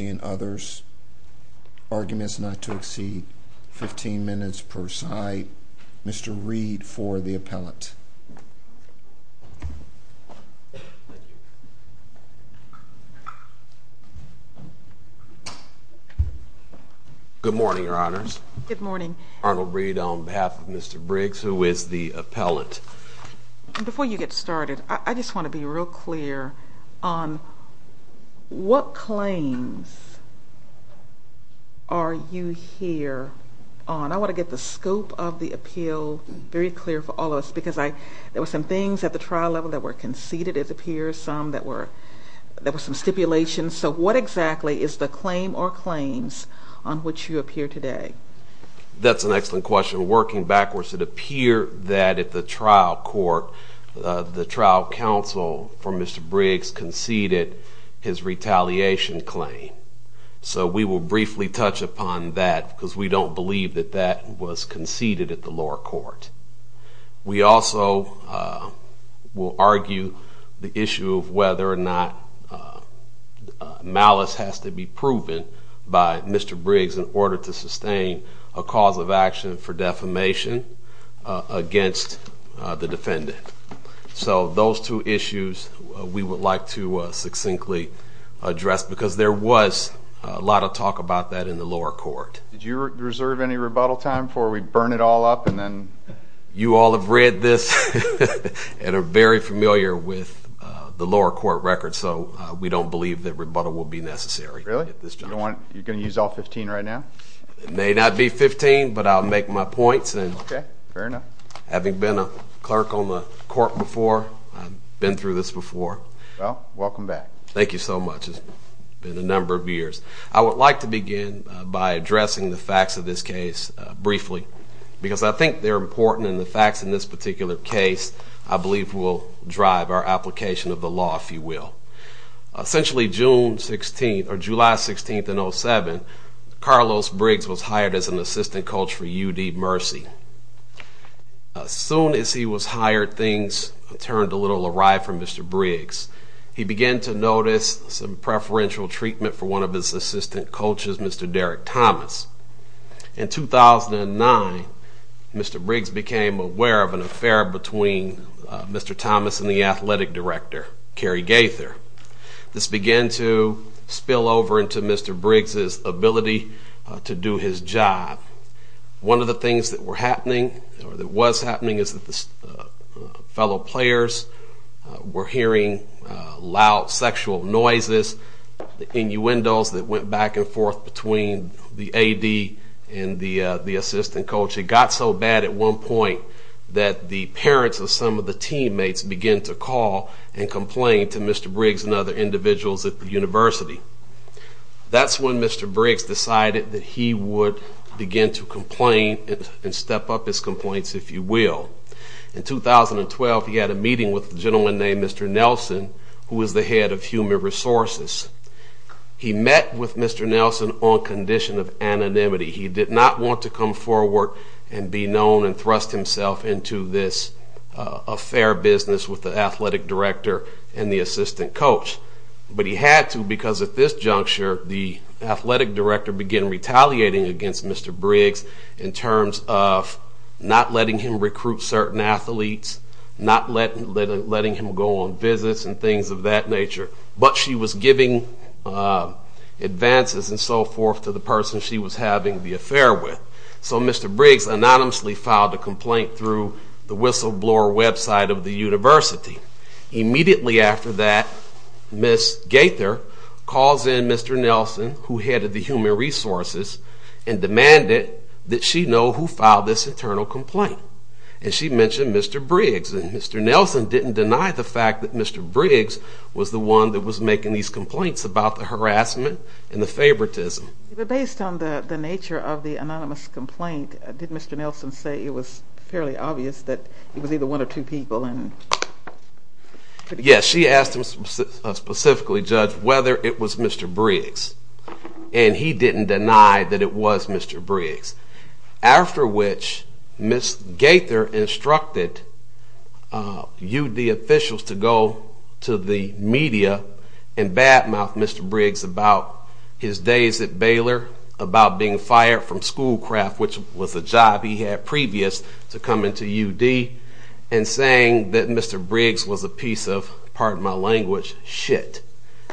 and others. Arguments not to exceed 15 minutes per side. Mr. Reed for the appellate. Good morning, your honors. Good morning. Arnold Reed on behalf of Mr. Briggs, who is the appellate. Before you get started, I just want to be real clear on what claims are you here on? I want to get the scope of the appeal very clear for all of us. There were some things at the trial level that were conceded, it appears, some that were stipulations. So what exactly is the claim or claims on which you appear today? That's an excellent question. Working backwards, it appears that at the trial court, the trial counsel for Mr. Briggs conceded his retaliation claim. So we will briefly touch upon that because we don't believe that that was conceded at the lower court. We also will argue the issue of whether or not malice has to be proven by Mr. Briggs in order to sustain a cause of action for to succinctly address because there was a lot of talk about that in the lower court. Did you reserve any rebuttal time before we burn it all up and then? You all have read this and are very familiar with the lower court record, so we don't believe that rebuttal will be necessary. Really? You're going to use all 15 right now? It may not be 15, but I'll make my points. Okay, fair enough. Having been a clerk on the court before, I've been through this before. Well, welcome back. Thank you so much. It's been a number of years. I would like to begin by addressing the facts of this case briefly because I think they're important and the facts in this particular case I believe will drive our application of the law, if you will. Essentially, June 16th or July 16th in 07, Carlos Briggs was hired as an assistant coach for UD Mercy. As soon as he was hired, things turned a little awry for Mr. Briggs. He began to notice some preferential treatment for one of his assistant coaches, Mr. Derek Thomas. In 2009, Mr. Briggs became aware of an affair between Mr. Thomas and the athletic director, Kerry Gaither. This began to spill over into Mr. Briggs' ability to do his job. One of the things that was happening is that the fellow players were hearing loud sexual noises, innuendos that went back and forth between the AD and the assistant coach. It got so bad at one point that the parents of some of the teammates began to call and complain to Mr. Briggs and other individuals at the university. That's when Mr. Briggs decided that he would begin to complain and step up his complaints, if you will. In 2012, he had a meeting with a gentleman named Mr. Nelson, who was the head of human resources. He met with Mr. Nelson on condition of anonymity. He did not want to come forward and be known and thrust himself into this affair business with the athletic director and the assistant coach. But he had to because at this juncture, the athletic director began retaliating against Mr. Briggs in terms of not letting him recruit certain athletes, not letting him go on visits and things of that nature. But she was giving advances and so forth to the person she was having the affair with. So Mr. Briggs anonymously filed a complaint through the whistleblower website of the university. Immediately after that, Ms. Gaither calls in Mr. Nelson, who headed the human resources, and demanded that she know who filed this internal complaint. And she mentioned Mr. Briggs. And Mr. Nelson didn't deny the fact that Mr. Briggs was the one that was making these complaints about the harassment and the favoritism. But based on the nature of the anonymous complaint, did Mr. Nelson say it was fairly obvious that it was either one or two people? Yes, she asked him specifically, Judge, whether it was Mr. Briggs. And he didn't deny that it was Mr. Briggs. After which, Ms. Gaither instructed UD officials to go to the media and badmouth Mr. Briggs about his days at Baylor, about being fired from Schoolcraft, which was a job he had previous to come into UD, and saying that Mr. Briggs was a piece of, pardon my language, shit.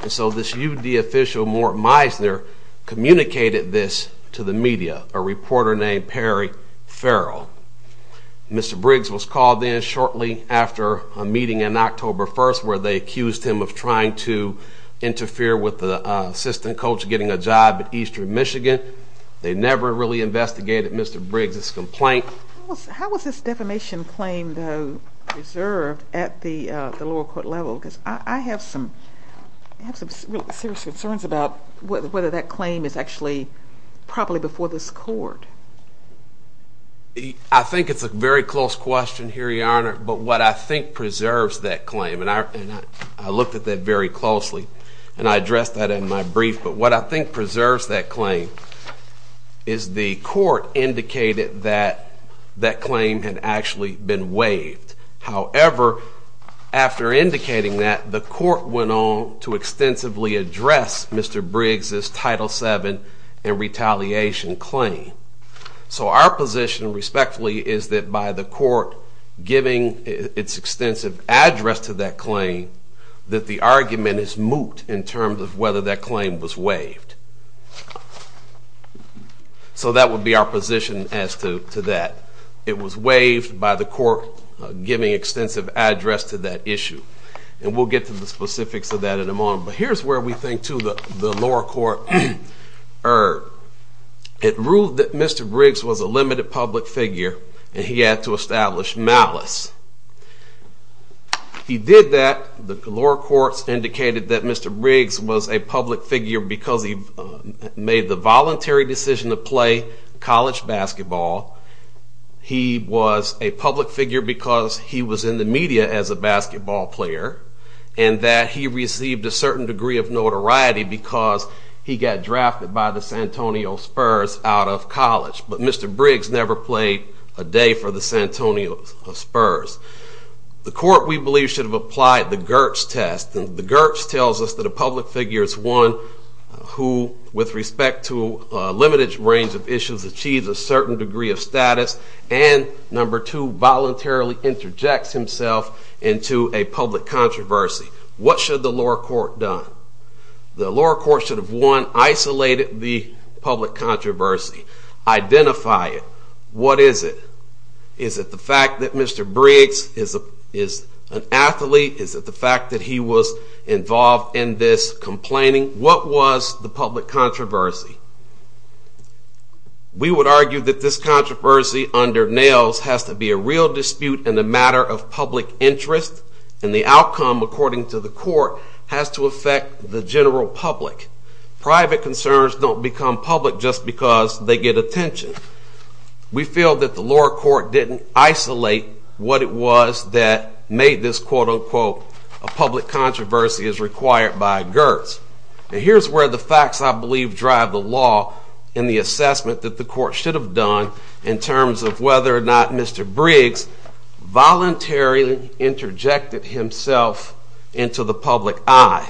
And so this UD official, Mort Meisner, communicated this to the media, a reporter named Perry Farrell. Mr. Briggs was called in shortly after a meeting on October 1st, where they accused him of trying to interfere with the assistant coach getting a job at Eastern Michigan. They never really investigated Mr. Briggs' complaint. How was this defamation claim, though, preserved at the lower court level? Because I have some serious concerns about whether that claim is actually properly before this court. I think it's a very close question here, Your Honor, but what I think preserves that claim, and I looked at that very closely, and I addressed that in my brief, but what I think preserves that claim is the court indicated that that claim had actually been waived. However, after indicating that, the court went on to extensively address Mr. Briggs' Title VII and retaliation claim. So our position, respectfully, is that by the court giving its extensive address to that claim, that the argument is moot in terms of whether that claim was waived. So that would be our position as to that. It was waived by the court giving extensive address to that issue. And we'll get to the specifics of that in a moment, but here's where we think, to the lower court, it ruled that Mr. Briggs was a limited public figure, and he had to establish malice. He did that. The lower courts indicated that Mr. Briggs was a public figure because he made the voluntary decision to play college basketball. He was a public figure because he was in the media as a basketball player, and that he received a certain degree of notoriety because he got drafted by the Santonio Spurs out of college. But Mr. Briggs never played a day for the Santonio Spurs. The court, we believe, should have applied the Gertz test, and the Gertz tells us that a public figure is one who, with respect to a limited range of issues, achieves a certain degree of status and, number two, voluntarily interjects himself into a public controversy. What should the lower court done? The lower court should have, one, isolated the public controversy, identify it. What is it? Is it the fact that Mr. Briggs is an athlete? Is it the fact that he was involved in this complaining? What was the public controversy? We would argue that this controversy, under Nails, has to be a real dispute and a matter of public interest, and the outcome, according to the court, has to affect the general public. Private concerns don't become public just because they get attention. We feel that the lower court didn't isolate what it was that made this, quote, unquote, a public controversy as required by Gertz. And here's where the facts, I believe, drive the law in the assessment that the court should have done in terms of whether or not Mr. Briggs voluntarily interjected himself into the public eye.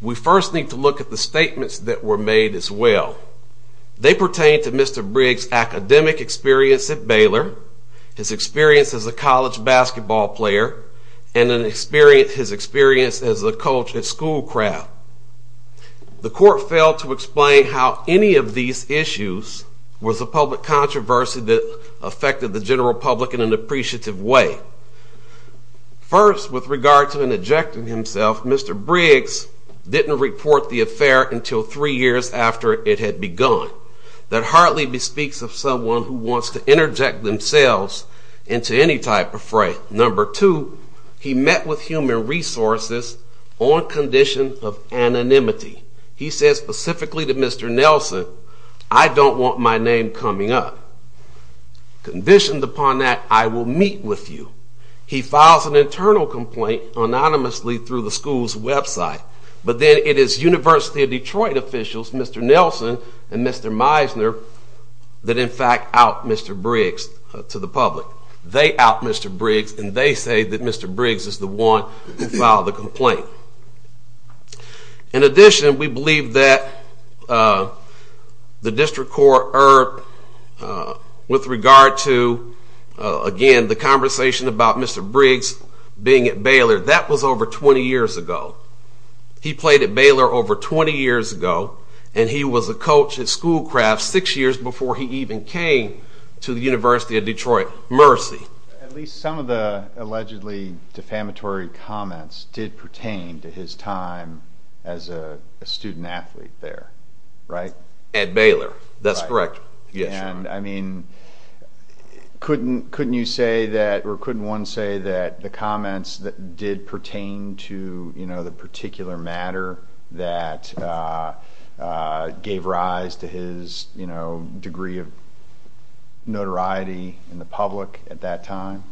We first need to look at the statements that were made as well. They pertain to Mr. Briggs' academic experience at Baylor, his experience as a college basketball player, and his experience as a coach at Schoolcraft. The court failed to explain how any of these issues was a public controversy that affected the general public in an appreciative way. First, with regard to interjecting himself, Mr. Briggs didn't report the affair until three years after it had begun. That hardly speaks of someone who wants to interject themselves into any type of fray. Number two, he met with human resources on condition of anonymity. He said specifically to Mr. Nelson, I don't want my name coming up. Conditioned upon that, I will meet with you. He files an internal complaint anonymously through the school's website. But then it is University of Detroit officials, Mr. Nelson and Mr. Meisner, that in fact out Mr. Briggs to the public. They out Mr. Briggs and they say that Mr. Briggs is the one who did that. The district court erred with regard to, again, the conversation about Mr. Briggs being at Baylor. That was over twenty years ago. He played at Baylor over twenty years ago and he was a coach at Schoolcraft six years before he even came to the University of Detroit. Mercy. At least some of the allegedly defamatory comments did pertain to his time as a student athlete there, right? At Baylor. That's correct. Couldn't one say that the comments did pertain to the particular matter that gave rise to his degree of notoriety in the public at that time?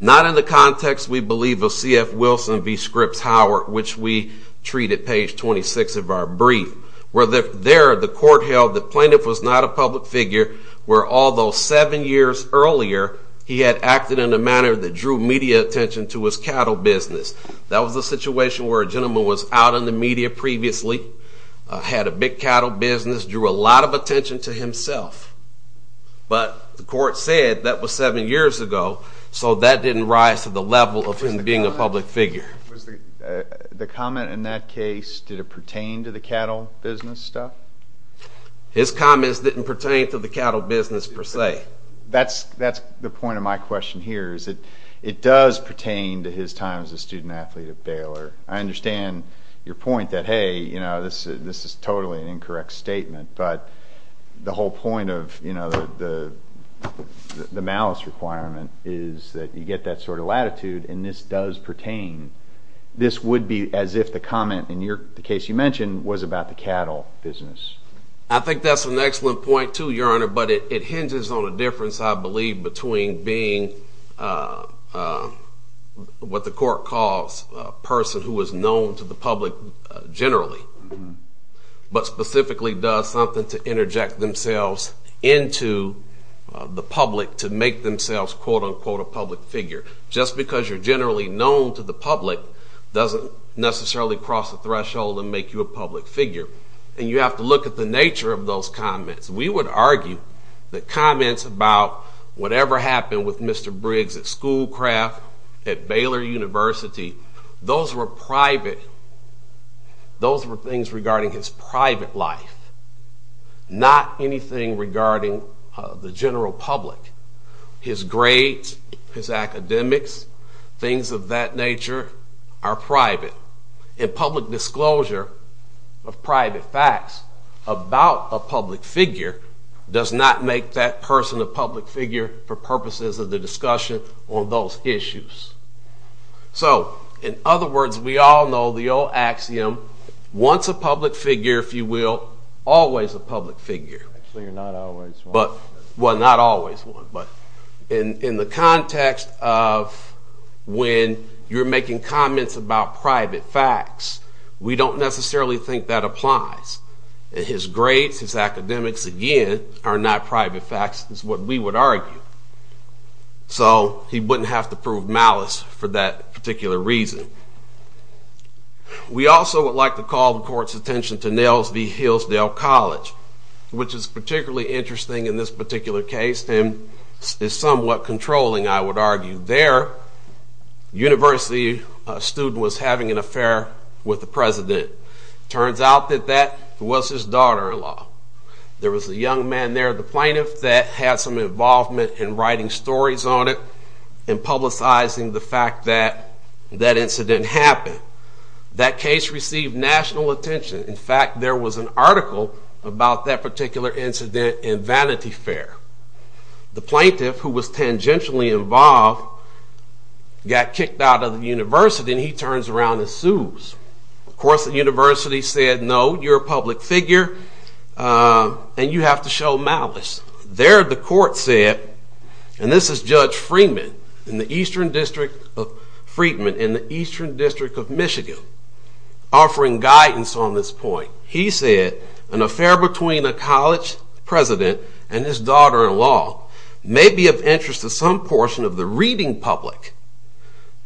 Not in the context we believe of C.F. Wilson v. Scripps Howard Court, which we treat at page twenty-six of our brief, where there the court held the plaintiff was not a public figure, where although seven years earlier he had acted in a manner that drew media attention to his cattle business. That was a situation where a gentleman was out in the media previously, had a big cattle business, drew a lot of attention to himself. But the court said that was seven years ago, so that didn't rise to the level of him being a public figure. The comment in that case, did it pertain to the cattle business stuff? His comments didn't pertain to the cattle business per se. That's the point of my question here is that it does pertain to his time as a student athlete at Baylor. I understand your point that hey, this is totally an incorrect statement, but the whole point of the malice requirement is that you get that sort of latitude and this does pertain. This would be as if the comment in the case you mentioned was about the cattle business. I think that's an excellent point too, Your Honor, but it hinges on a difference I believe between being what the court calls a person who is known to the public generally, but who calls himself a public figure. Just because you're generally known to the public doesn't necessarily cross the threshold and make you a public figure. And you have to look at the nature of those comments. We would argue that comments about whatever happened with Mr. Briggs at Schoolcraft, at Baylor University, those were private. Those were things regarding his private life, not anything regarding the general public. His grades, his academics, things of that nature are private. And public disclosure of private facts about a public figure does not make that person a public figure for purposes of the discussion on those issues. A public figure, if you will, always a public figure, but not always one. In the context of when you're making comments about private facts, we don't necessarily think that applies. His grades, his academics, again, are not private facts is what we would argue. So he wouldn't have to prove malice for that particular reason. We also would like to call the court's attention to Nails v. Hillsdale College, which is particularly interesting in this particular case and is somewhat controlling, I would argue. There, a university student was having an affair with the president. Turns out that that was his daughter-in-law. There was a young man there, the plaintiff, that had some involvement in writing stories on the internet and publicizing the fact that that incident happened. That case received national attention. In fact, there was an article about that particular incident in Vanity Fair. The plaintiff, who was tangentially involved, got kicked out of the university and he turns around and sues. Of course, the university said, no, you're a public figure and you have to show malice. There, the court said, and this is Judge Freeman in the Eastern District of Michigan, offering guidance on this point. He said, an affair between a college president and his daughter-in-law may be of interest to some portion of the reading public,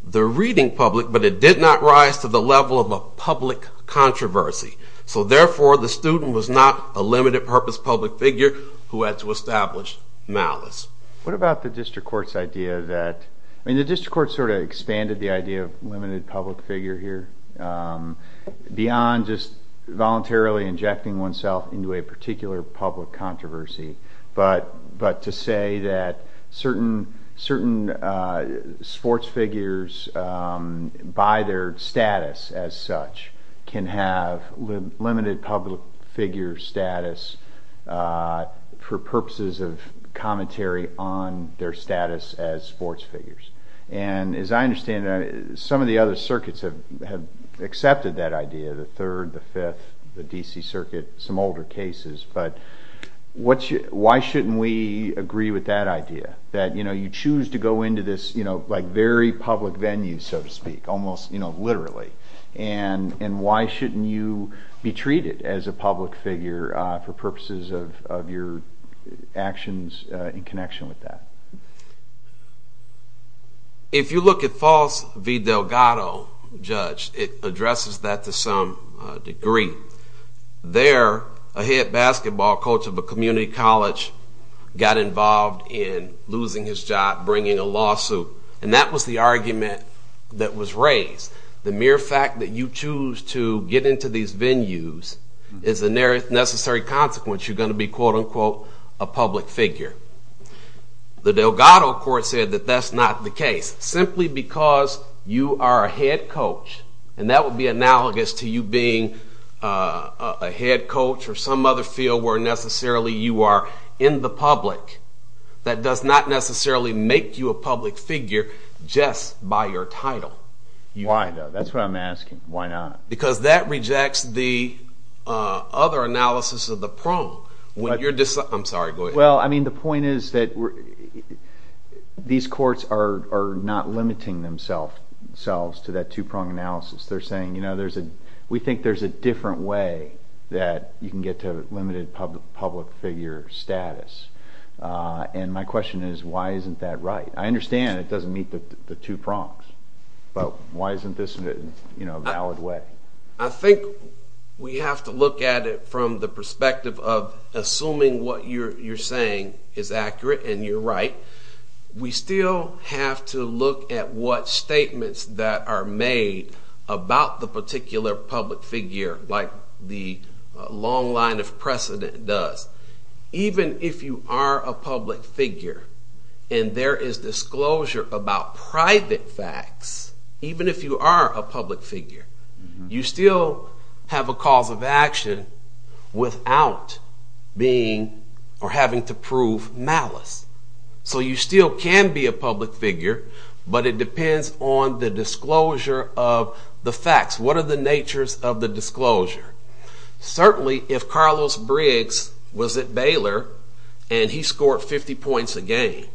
the reading public, but it did not rise to the level of a public controversy. So therefore, the student was not a limited purpose public figure who had to establish malice. What about the district court's idea that, I mean the district court sort of expanded the idea of limited public figure here, beyond just voluntarily injecting oneself into a particular public controversy, but to say that certain sports figures by their status as such can have limited public figure status for purposes of commentary on their status as sports figures. As I understand it, some of the other circuits have accepted that idea, the Third, the Fifth, the D.C. Circuit, some older cases, but why shouldn't we agree with that idea, that you choose to go into this very public venue, so to speak, almost literally, and why shouldn't you be treated as a public figure for purposes of your actions in connection with that? If you look at Foss v. Delgado, Judge, it addresses that to some degree. There, a head basketball coach of a community college got involved in losing his job, bringing a lawsuit, and that was the argument that was raised. The mere fact that you choose to get into these venues is a necessary consequence you're going to be, quote unquote, a public figure. The Delgado court said that that's not the case, simply because you are a head coach or some other field where necessarily you are in the public. That does not necessarily make you a public figure just by your title. Why, though? That's what I'm asking. Why not? Because that rejects the other analysis of the prong. I'm sorry, go ahead. Well, I mean, the point is that these courts are not limiting themselves to that two-prong analysis. They're a different way that you can get to limited public figure status. And my question is, why isn't that right? I understand it doesn't meet the two prongs, but why isn't this a valid way? I think we have to look at it from the perspective of assuming what you're saying is accurate and you're right. We still have to look at what statements that are made about the particular public figure, like the long line of precedent does. Even if you are a public figure and there is disclosure about private facts, even if you are a public figure, you still have a cause of action without being or having to prove malice. So you still can be a public figure, but it depends on the disclosure of the facts. What are the natures of the disclosure? Certainly, if Carlos Briggs was at Baylor and he scored 50 points a game,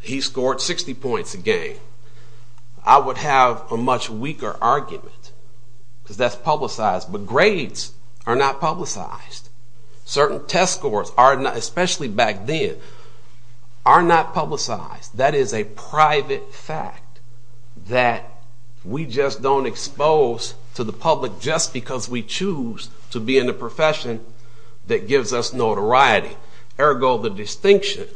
he scored 60 points a game, I would have a much weaker argument because that's publicized. But grades are not publicized. Certain test scores, especially back then, are not publicized. That is a private fact that we just don't expose to the public just because we choose to be in the profession that gives us notoriety. Ergo, the distinction.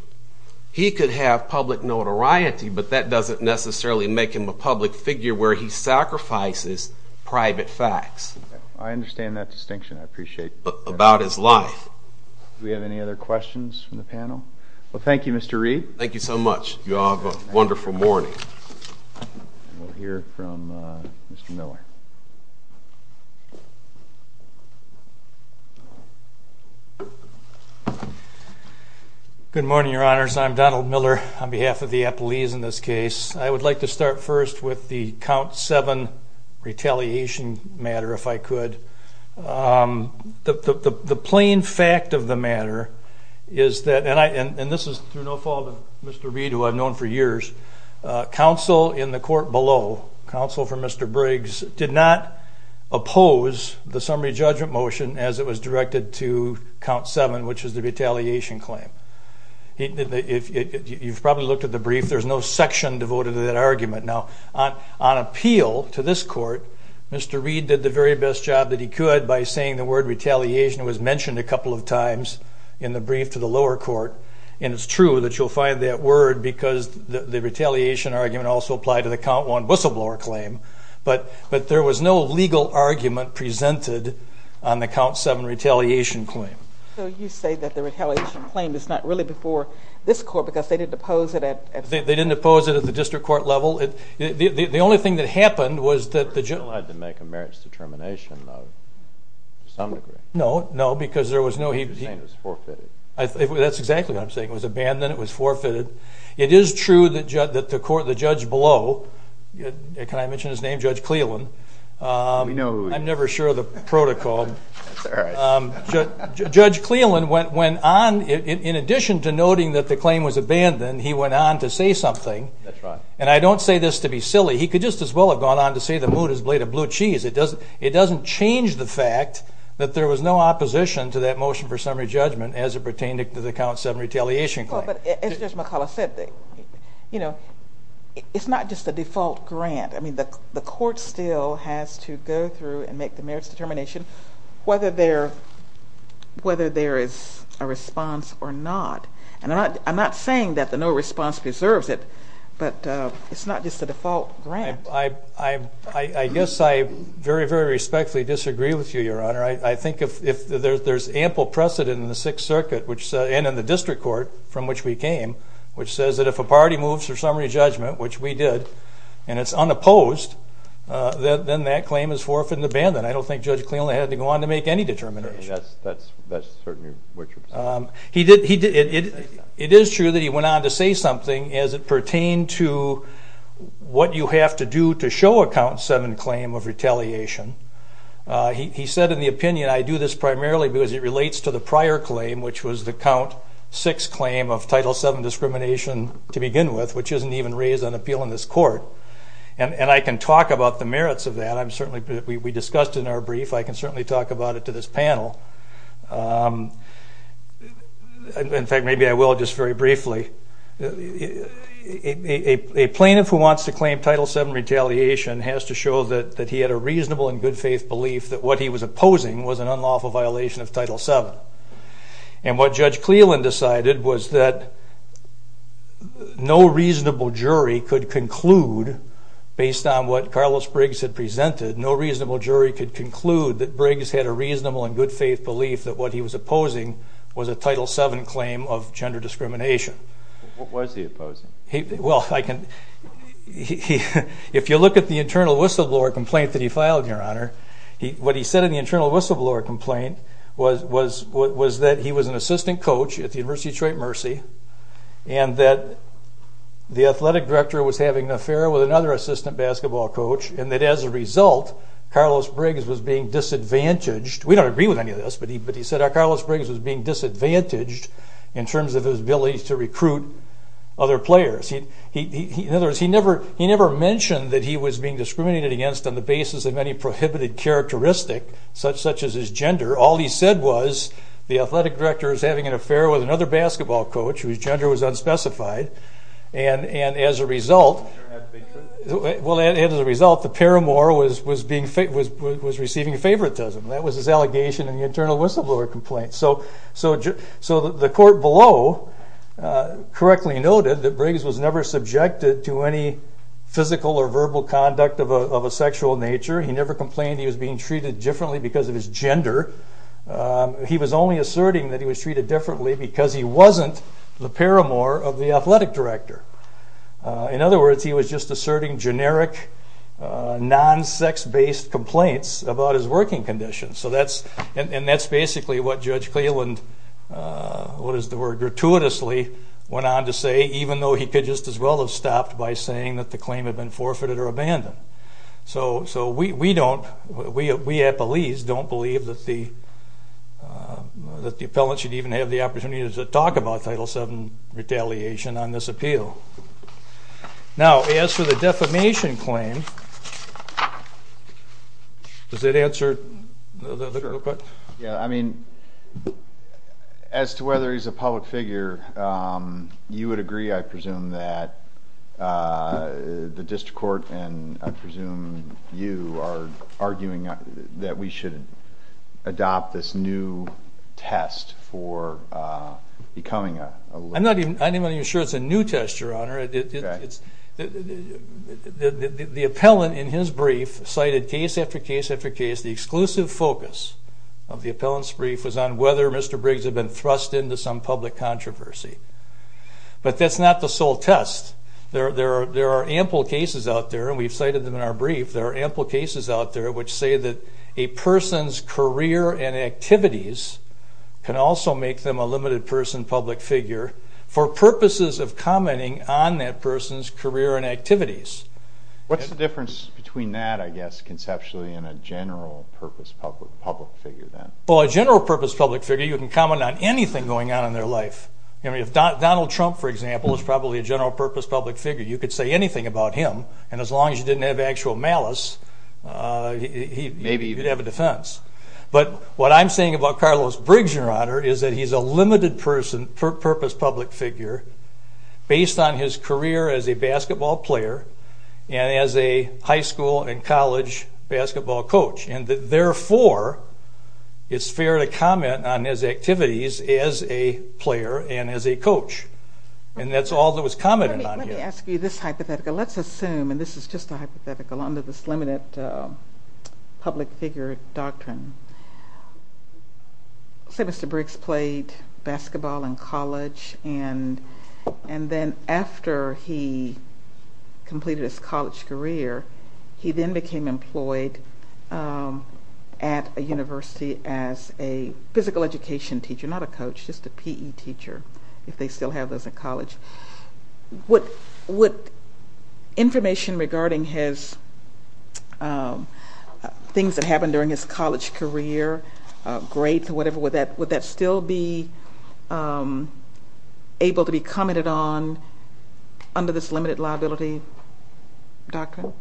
He could have public notoriety, but that doesn't necessarily make him a public figure where he sacrifices private facts about his life. I understand that distinction. I appreciate that. Do we have any other questions from the panel? Thank you, Mr. Reed. Thank you so much. You all have a wonderful morning. Good morning, Your Honors. I'm Donald Miller on behalf of the Appleese in this case. I would like to start first with the Count 7 retaliation matter, if I could. The plain fact of the matter is that, and this is through no fault of Mr. Reed, who I've known for years, counsel in the court below, counsel for Mr. Briggs, did not oppose the summary judgment motion as it was directed to Count 7, which is the retaliation claim. You've probably looked at the brief. There's no section devoted to that argument. Now, on appeal to this court, Mr. Reed did the very best job that he could by saying the word retaliation was mentioned a couple of times in the brief to the lower court, and it's true that you'll find that word because the retaliation argument also applied to the Count 1 whistleblower claim, but there was no legal argument presented on the Count 7 retaliation claim. So you say that the retaliation claim is not really before this court because they didn't oppose it at the... They didn't oppose it at the district court level. The only thing that happened was that the judge... He still had to make a merits determination, though, to some degree. No, no, because there was no... He was saying it was forfeited. That's exactly what I'm saying. It was abandoned, it was forfeited. It is true that the court, the judge below, can I mention his name? Judge Cleland. We know who he is. I'm never sure of the protocol. Judge Cleland went on, in addition to noting that the claim was abandoned, he went on to say something. That's right. And I don't say this to be silly. He could just as well have gone on to say the mood is a blade of blue cheese. It doesn't change the fact that there was no opposition to that motion for summary judgment as it pertained to the Count 7 retaliation claim. But as Judge McCullough said, it's not just a default grant. I mean, the court still has to go through and make the merits determination whether there is a response or not. And I'm not saying that the no response preserves it, but it's not just a default grant. I guess I very, very respectfully disagree with you, Your Honor. I think if there's ample precedent in the Sixth Circuit and in the District Court, from which we came, which says that if a party moves for summary judgment, which we did, and it's unopposed, then that claim is forfeited and abandoned. I don't think Judge Cleland had to go on to make any determination. That's certainly what you're saying. It is true that he went on to say something as it pertained to what you have to do to show a Count 7 claim of retaliation. He said in the opinion, I do this primarily because it relates to the prior claim, which was the Count 6 claim of Title 7 discrimination to begin with, which isn't even raised on appeal in this court. And I can talk about the merits of that. I'm certainly, we discussed in our brief. I can certainly talk about it to this panel. In fact, maybe I will just very briefly. A plaintiff who wants to claim Title 7 retaliation has to show that he had a reasonable and good faith belief that what he was opposing was an unlawful violation of Title 7. And what Judge Cleland decided was that no reasonable jury could conclude based on what Carlos Briggs had presented, no reasonable jury could conclude that Briggs had a reasonable and good faith belief that what he was opposing was a Title 7 claim of gender discrimination. What was he opposing? Well, if you look at the internal whistleblower complaint that he filed, your honor, what he said in the internal whistleblower complaint was that he was an assistant coach at the University of Detroit Mercy and that the athletic director was having an affair with another assistant basketball coach and that as a result, Carlos Briggs was being disadvantaged. We don't agree with any of this, but he said that Carlos Briggs was being disadvantaged in terms of his ability to recruit other players. In other words, he never mentioned that he was being discriminated against on the basis of any prohibited characteristic such as his gender. All he said was the athletic director was having an affair with another basketball coach whose gender was unspecified and as a result, the paramour was receiving favoritism. That was his allegation in the internal whistleblower complaint. So the court below correctly noted that Briggs was never subjected to any physical or verbal conduct of a sexual nature. He never complained he was being treated differently because of his gender. He was only asserting that he was treated differently because he wasn't the paramour of the athletic director. In other words, he was just asserting generic, non-sex-based complaints about his working conditions. And that's basically what Judge Cleland, what is the word, gratuitously went on to say, even though he could just as well have stopped by saying that the claim had been forfeited or abandoned. So we don't, we appellees don't believe that the appellant should even have the opportunity to talk about Title VII retaliation on this appeal. Now, as for the defamation claim, does that answer the question? Yeah, I mean, as to whether he's a public figure, you would agree, I presume, that the district court and I presume you are arguing that we should adopt this new test for becoming a legal... I'm not even sure it's a new test, Your Honor. The appellant in his brief cited case after case after case, the exclusive focus of the appellant's brief was on whether Mr. Briggs had been thrust into some public controversy. But that's not the sole test. There are ample cases out there, and we've cited them in our brief, there are ample cases out there which say that a person's career and activities can also make them a limited person public figure for purposes of commenting on that person's career and activities. What's the difference between that, I guess, conceptually and a general purpose public figure, then? Well, a general purpose public figure, you can comment on anything going on in their life. I mean, if Donald Trump, for example, is probably a general purpose public figure, you could say anything about him, and as long as you didn't have actual malice, he'd have a defense. But what I'm saying about Carlos Briggs, Your Honor, is that he's a limited purpose public figure based on his career as a basketball player and as a high school and college basketball coach. And therefore, it's fair to comment on his activities as a player and as a coach. And that's all that was commented on here. Let me ask you this hypothetical. Let's assume, and this is just a hypothetical under this public figure doctrine, say Mr. Briggs played basketball in college, and then after he completed his college career, he then became employed at a university as a physical education teacher, not a coach, just a P.E. teacher, if they still have those in college. Would information regarding things that happened during his college career, grades or whatever, would that still be able to be commented on under this limited liability doctrine?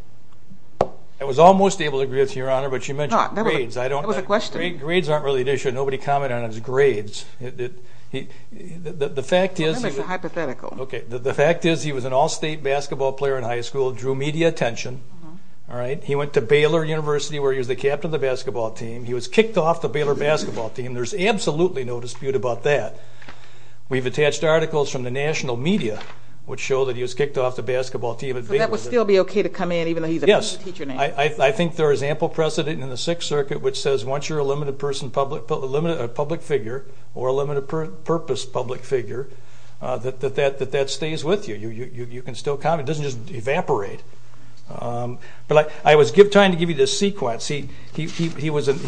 I was almost able to agree with you, Your Honor, but you mentioned grades. No, that was a question. Grades aren't really an issue. Nobody commented on his grades. The fact is... It's a hypothetical. The fact is he was an all-state basketball player in high school, drew media attention. He went to Baylor University where he was the captain of the basketball team. He was kicked off the Baylor basketball team. There's absolutely no dispute about that. We've attached articles from the national media which show that he was kicked off the basketball team at Baylor University. So that would still be okay to come in even though he's a P.E. teacher now? Yes. I think there is ample precedent in the Sixth Circuit which says once you're a limited person, a public figure, or a limited purpose public figure, that that stays with you. You can still comment. It doesn't just evaporate. I was trying to give you this sequence. He was an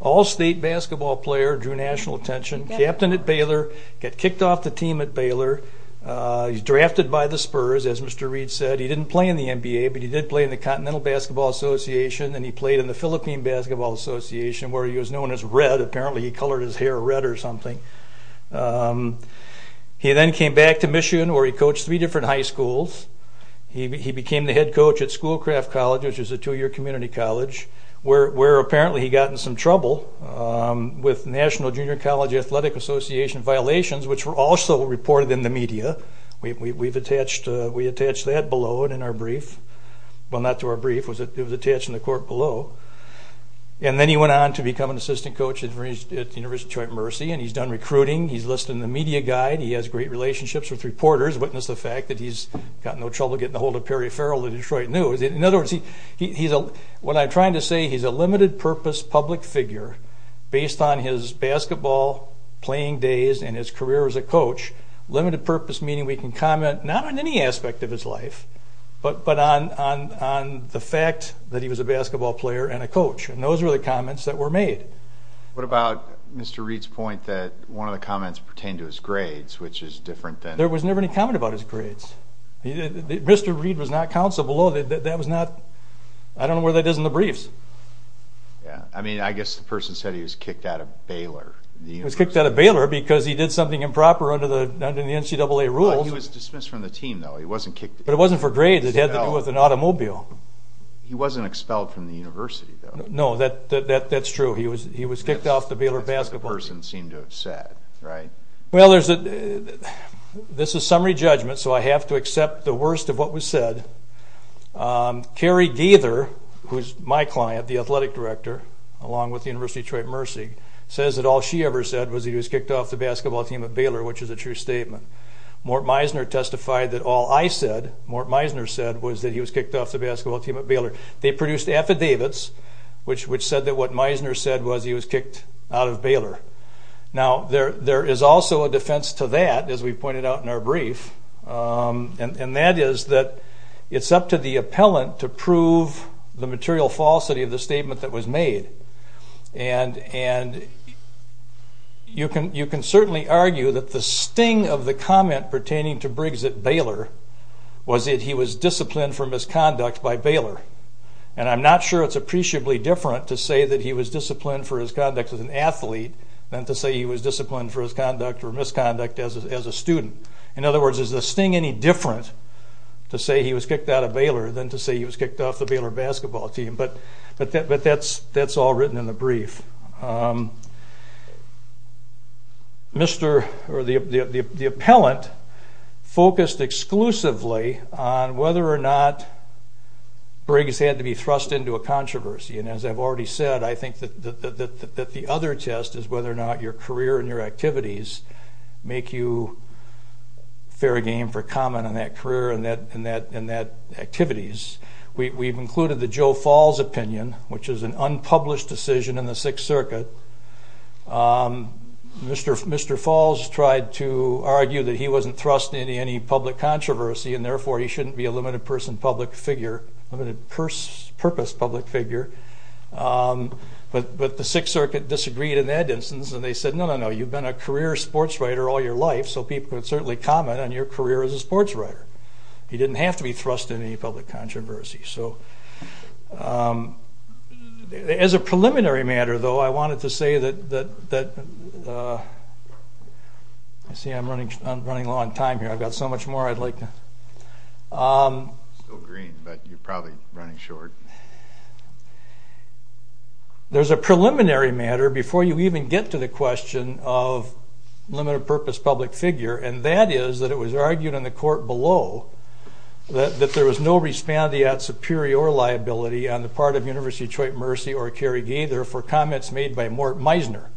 all-state basketball player, drew national attention, captain at Baylor, got kicked off the team at Baylor. He's drafted by the Spurs as Mr. Reed said. He didn't play in the NBA but he did play in the Continental Basketball Association and he played in the Philippine Basketball Association where he was known as Red. Apparently he colored his hair red or something. He then came back to Michigan where he coached three different high schools. He became the head coach at Schoolcraft College which is a two-year community college where apparently he got in some trouble with National Junior College Athletic Association violations which were also reported in the media. We attached that below and in our brief. Well, not to our brief. It was attached in the court below. And then he went on to become an assistant coach at the University of Detroit Mercy and he's done recruiting. He's listed in the media guide. He has great relationships with reporters, witnessed the fact that he's got no trouble getting a hold of Perry Farrell, the Detroit News. In other words, what I'm trying to say, he's a limited purpose public figure based on his basketball playing days and his career as a coach. Limited purpose meaning we can comment not on any aspect of his life but on the fact that he was a basketball player and a coach. And those were the comments that were made. What about Mr. Reid's point that one of the comments pertained to his grades which is different than... There was never any comment about his grades. Mr. Reid was not counsel below. That was not... I don't know where that is in the briefs. I mean, I guess the person said he was kicked out of Baylor. He was kicked out of Baylor because he did something improper under the NCAA rules. He was dismissed from the team though. He wasn't kicked... But it wasn't for grades. It had to do with an automobile. He wasn't expelled from the university though. No, that's true. He was kicked off the Baylor basketball team. That's what the person seemed to have said, right? Well, this is summary judgment so I have to accept the worst of what was said. Carrie Gaither, who's my client, the athletic director, along with the University of Detroit Mercy, says that all she ever said was he was kicked off the basketball team at Baylor, which is a true statement. Mort Meisner testified that all I said, Mort Meisner said, was that he was kicked off the basketball team at Baylor. They produced affidavits which said that what Meisner said was he was kicked out of Baylor. Now, there is also a defense to that, as we pointed out in our brief, and that is that it's up to the appellant to prove the material falsity of the statement that was made. And you can certainly argue that the sting of the comment pertaining to Briggs at Baylor was that he was disciplined for misconduct by Baylor. And I'm not sure it's appreciably different to say that he was disciplined for his conduct as an athlete than to say he was disciplined for his conduct or misconduct as a student. In other words, is the sting any different to say he was kicked out of Baylor than to say he was kicked off the Baylor basketball team? But that's all written in the brief. The appellant focused exclusively on whether or not Briggs had to be thrust into a controversy. And as I've already said, I think that the other test is whether or not your career and your activities make you fair game for comment on that career and that activities. We've included the Joe Falls opinion, which is an unpublished decision in the Sixth Circuit. Mr. Falls tried to argue that he wasn't thrust into any public controversy, and therefore he shouldn't be a limited-purpose public figure. But the Sixth Circuit disagreed in that instance, and they said, no, no, no, you've been a career sports writer all your life, so people could certainly comment on your career as a sports writer. He didn't have to be thrust into any public controversy. As a preliminary matter, though, I wanted to say that... See, I'm running low on time here. I've got so much more I'd like to... Still green, but you're probably running short. There's a preliminary matter before you even get to the question of limited-purpose public figure, and that is that it was argued in the court below that there was no respondeat superior liability on the part of University of Detroit Mercy or Kerry Gaither for comments made by Mort Meisner.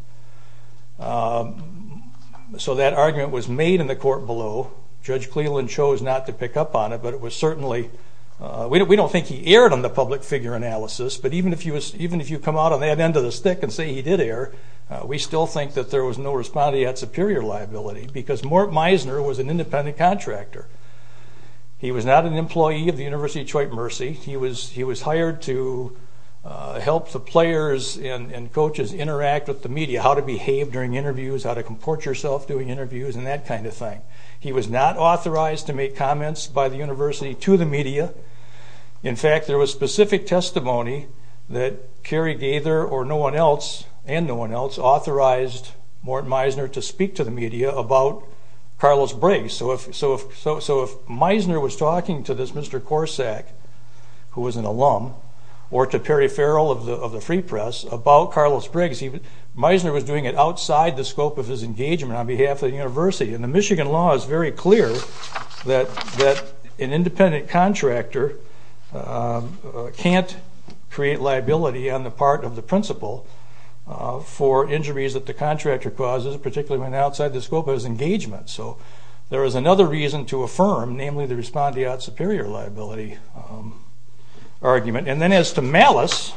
So that argument was made in the court below. Judge Cleland chose not to pick up on it, but it was certainly... We don't think he erred on the public figure analysis, but even if you come out on that end of the stick and say he did err, we still think that there was no respondeat superior liability because Mort Meisner was an independent contractor. He was not an employee of the University of Detroit Mercy. He was hired to help the players and coaches interact with the media, how to behave during interviews, how to comport yourself doing interviews, and that kind of thing. He was not authorized to make comments by the university to the media. In fact, there was specific testimony that Kerry Gaither or no one else, and no one else, authorized Mort Meisner to speak to the media about Carlos Briggs. So if Meisner was talking to this Mr. Corsack, who was an alum, or to Perry Farrell of the Free Press, about Carlos Briggs, Meisner was doing it outside the scope of his engagement on behalf of the university. And the Michigan law is very clear that an independent contractor can't create liability on the part of the principal for injuries that the contractor causes, particularly when outside the scope of his engagement. So there is another reason to affirm, namely, the respondeat superior liability argument. And then as to malice,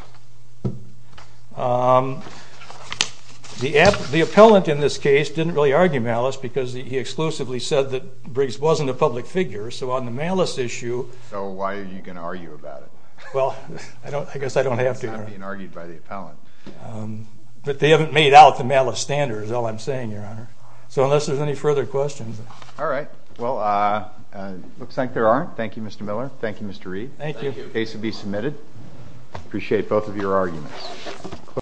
the appellant in this case didn't really argue malice because he exclusively said that Briggs wasn't a public figure. So on the malice issue... So why are you going to argue about it? Well, I guess I don't have to. It's not being argued by the appellant. But they haven't made out the malice standard is all I'm saying, Your Honor. So unless there's any further questions... All right. Well, it looks like there aren't. Thank you, Mr. Miller. Thank you, Mr. Reed. Thank you. The case will be submitted. Appreciate it. Thank you. Thank you for both of your arguments.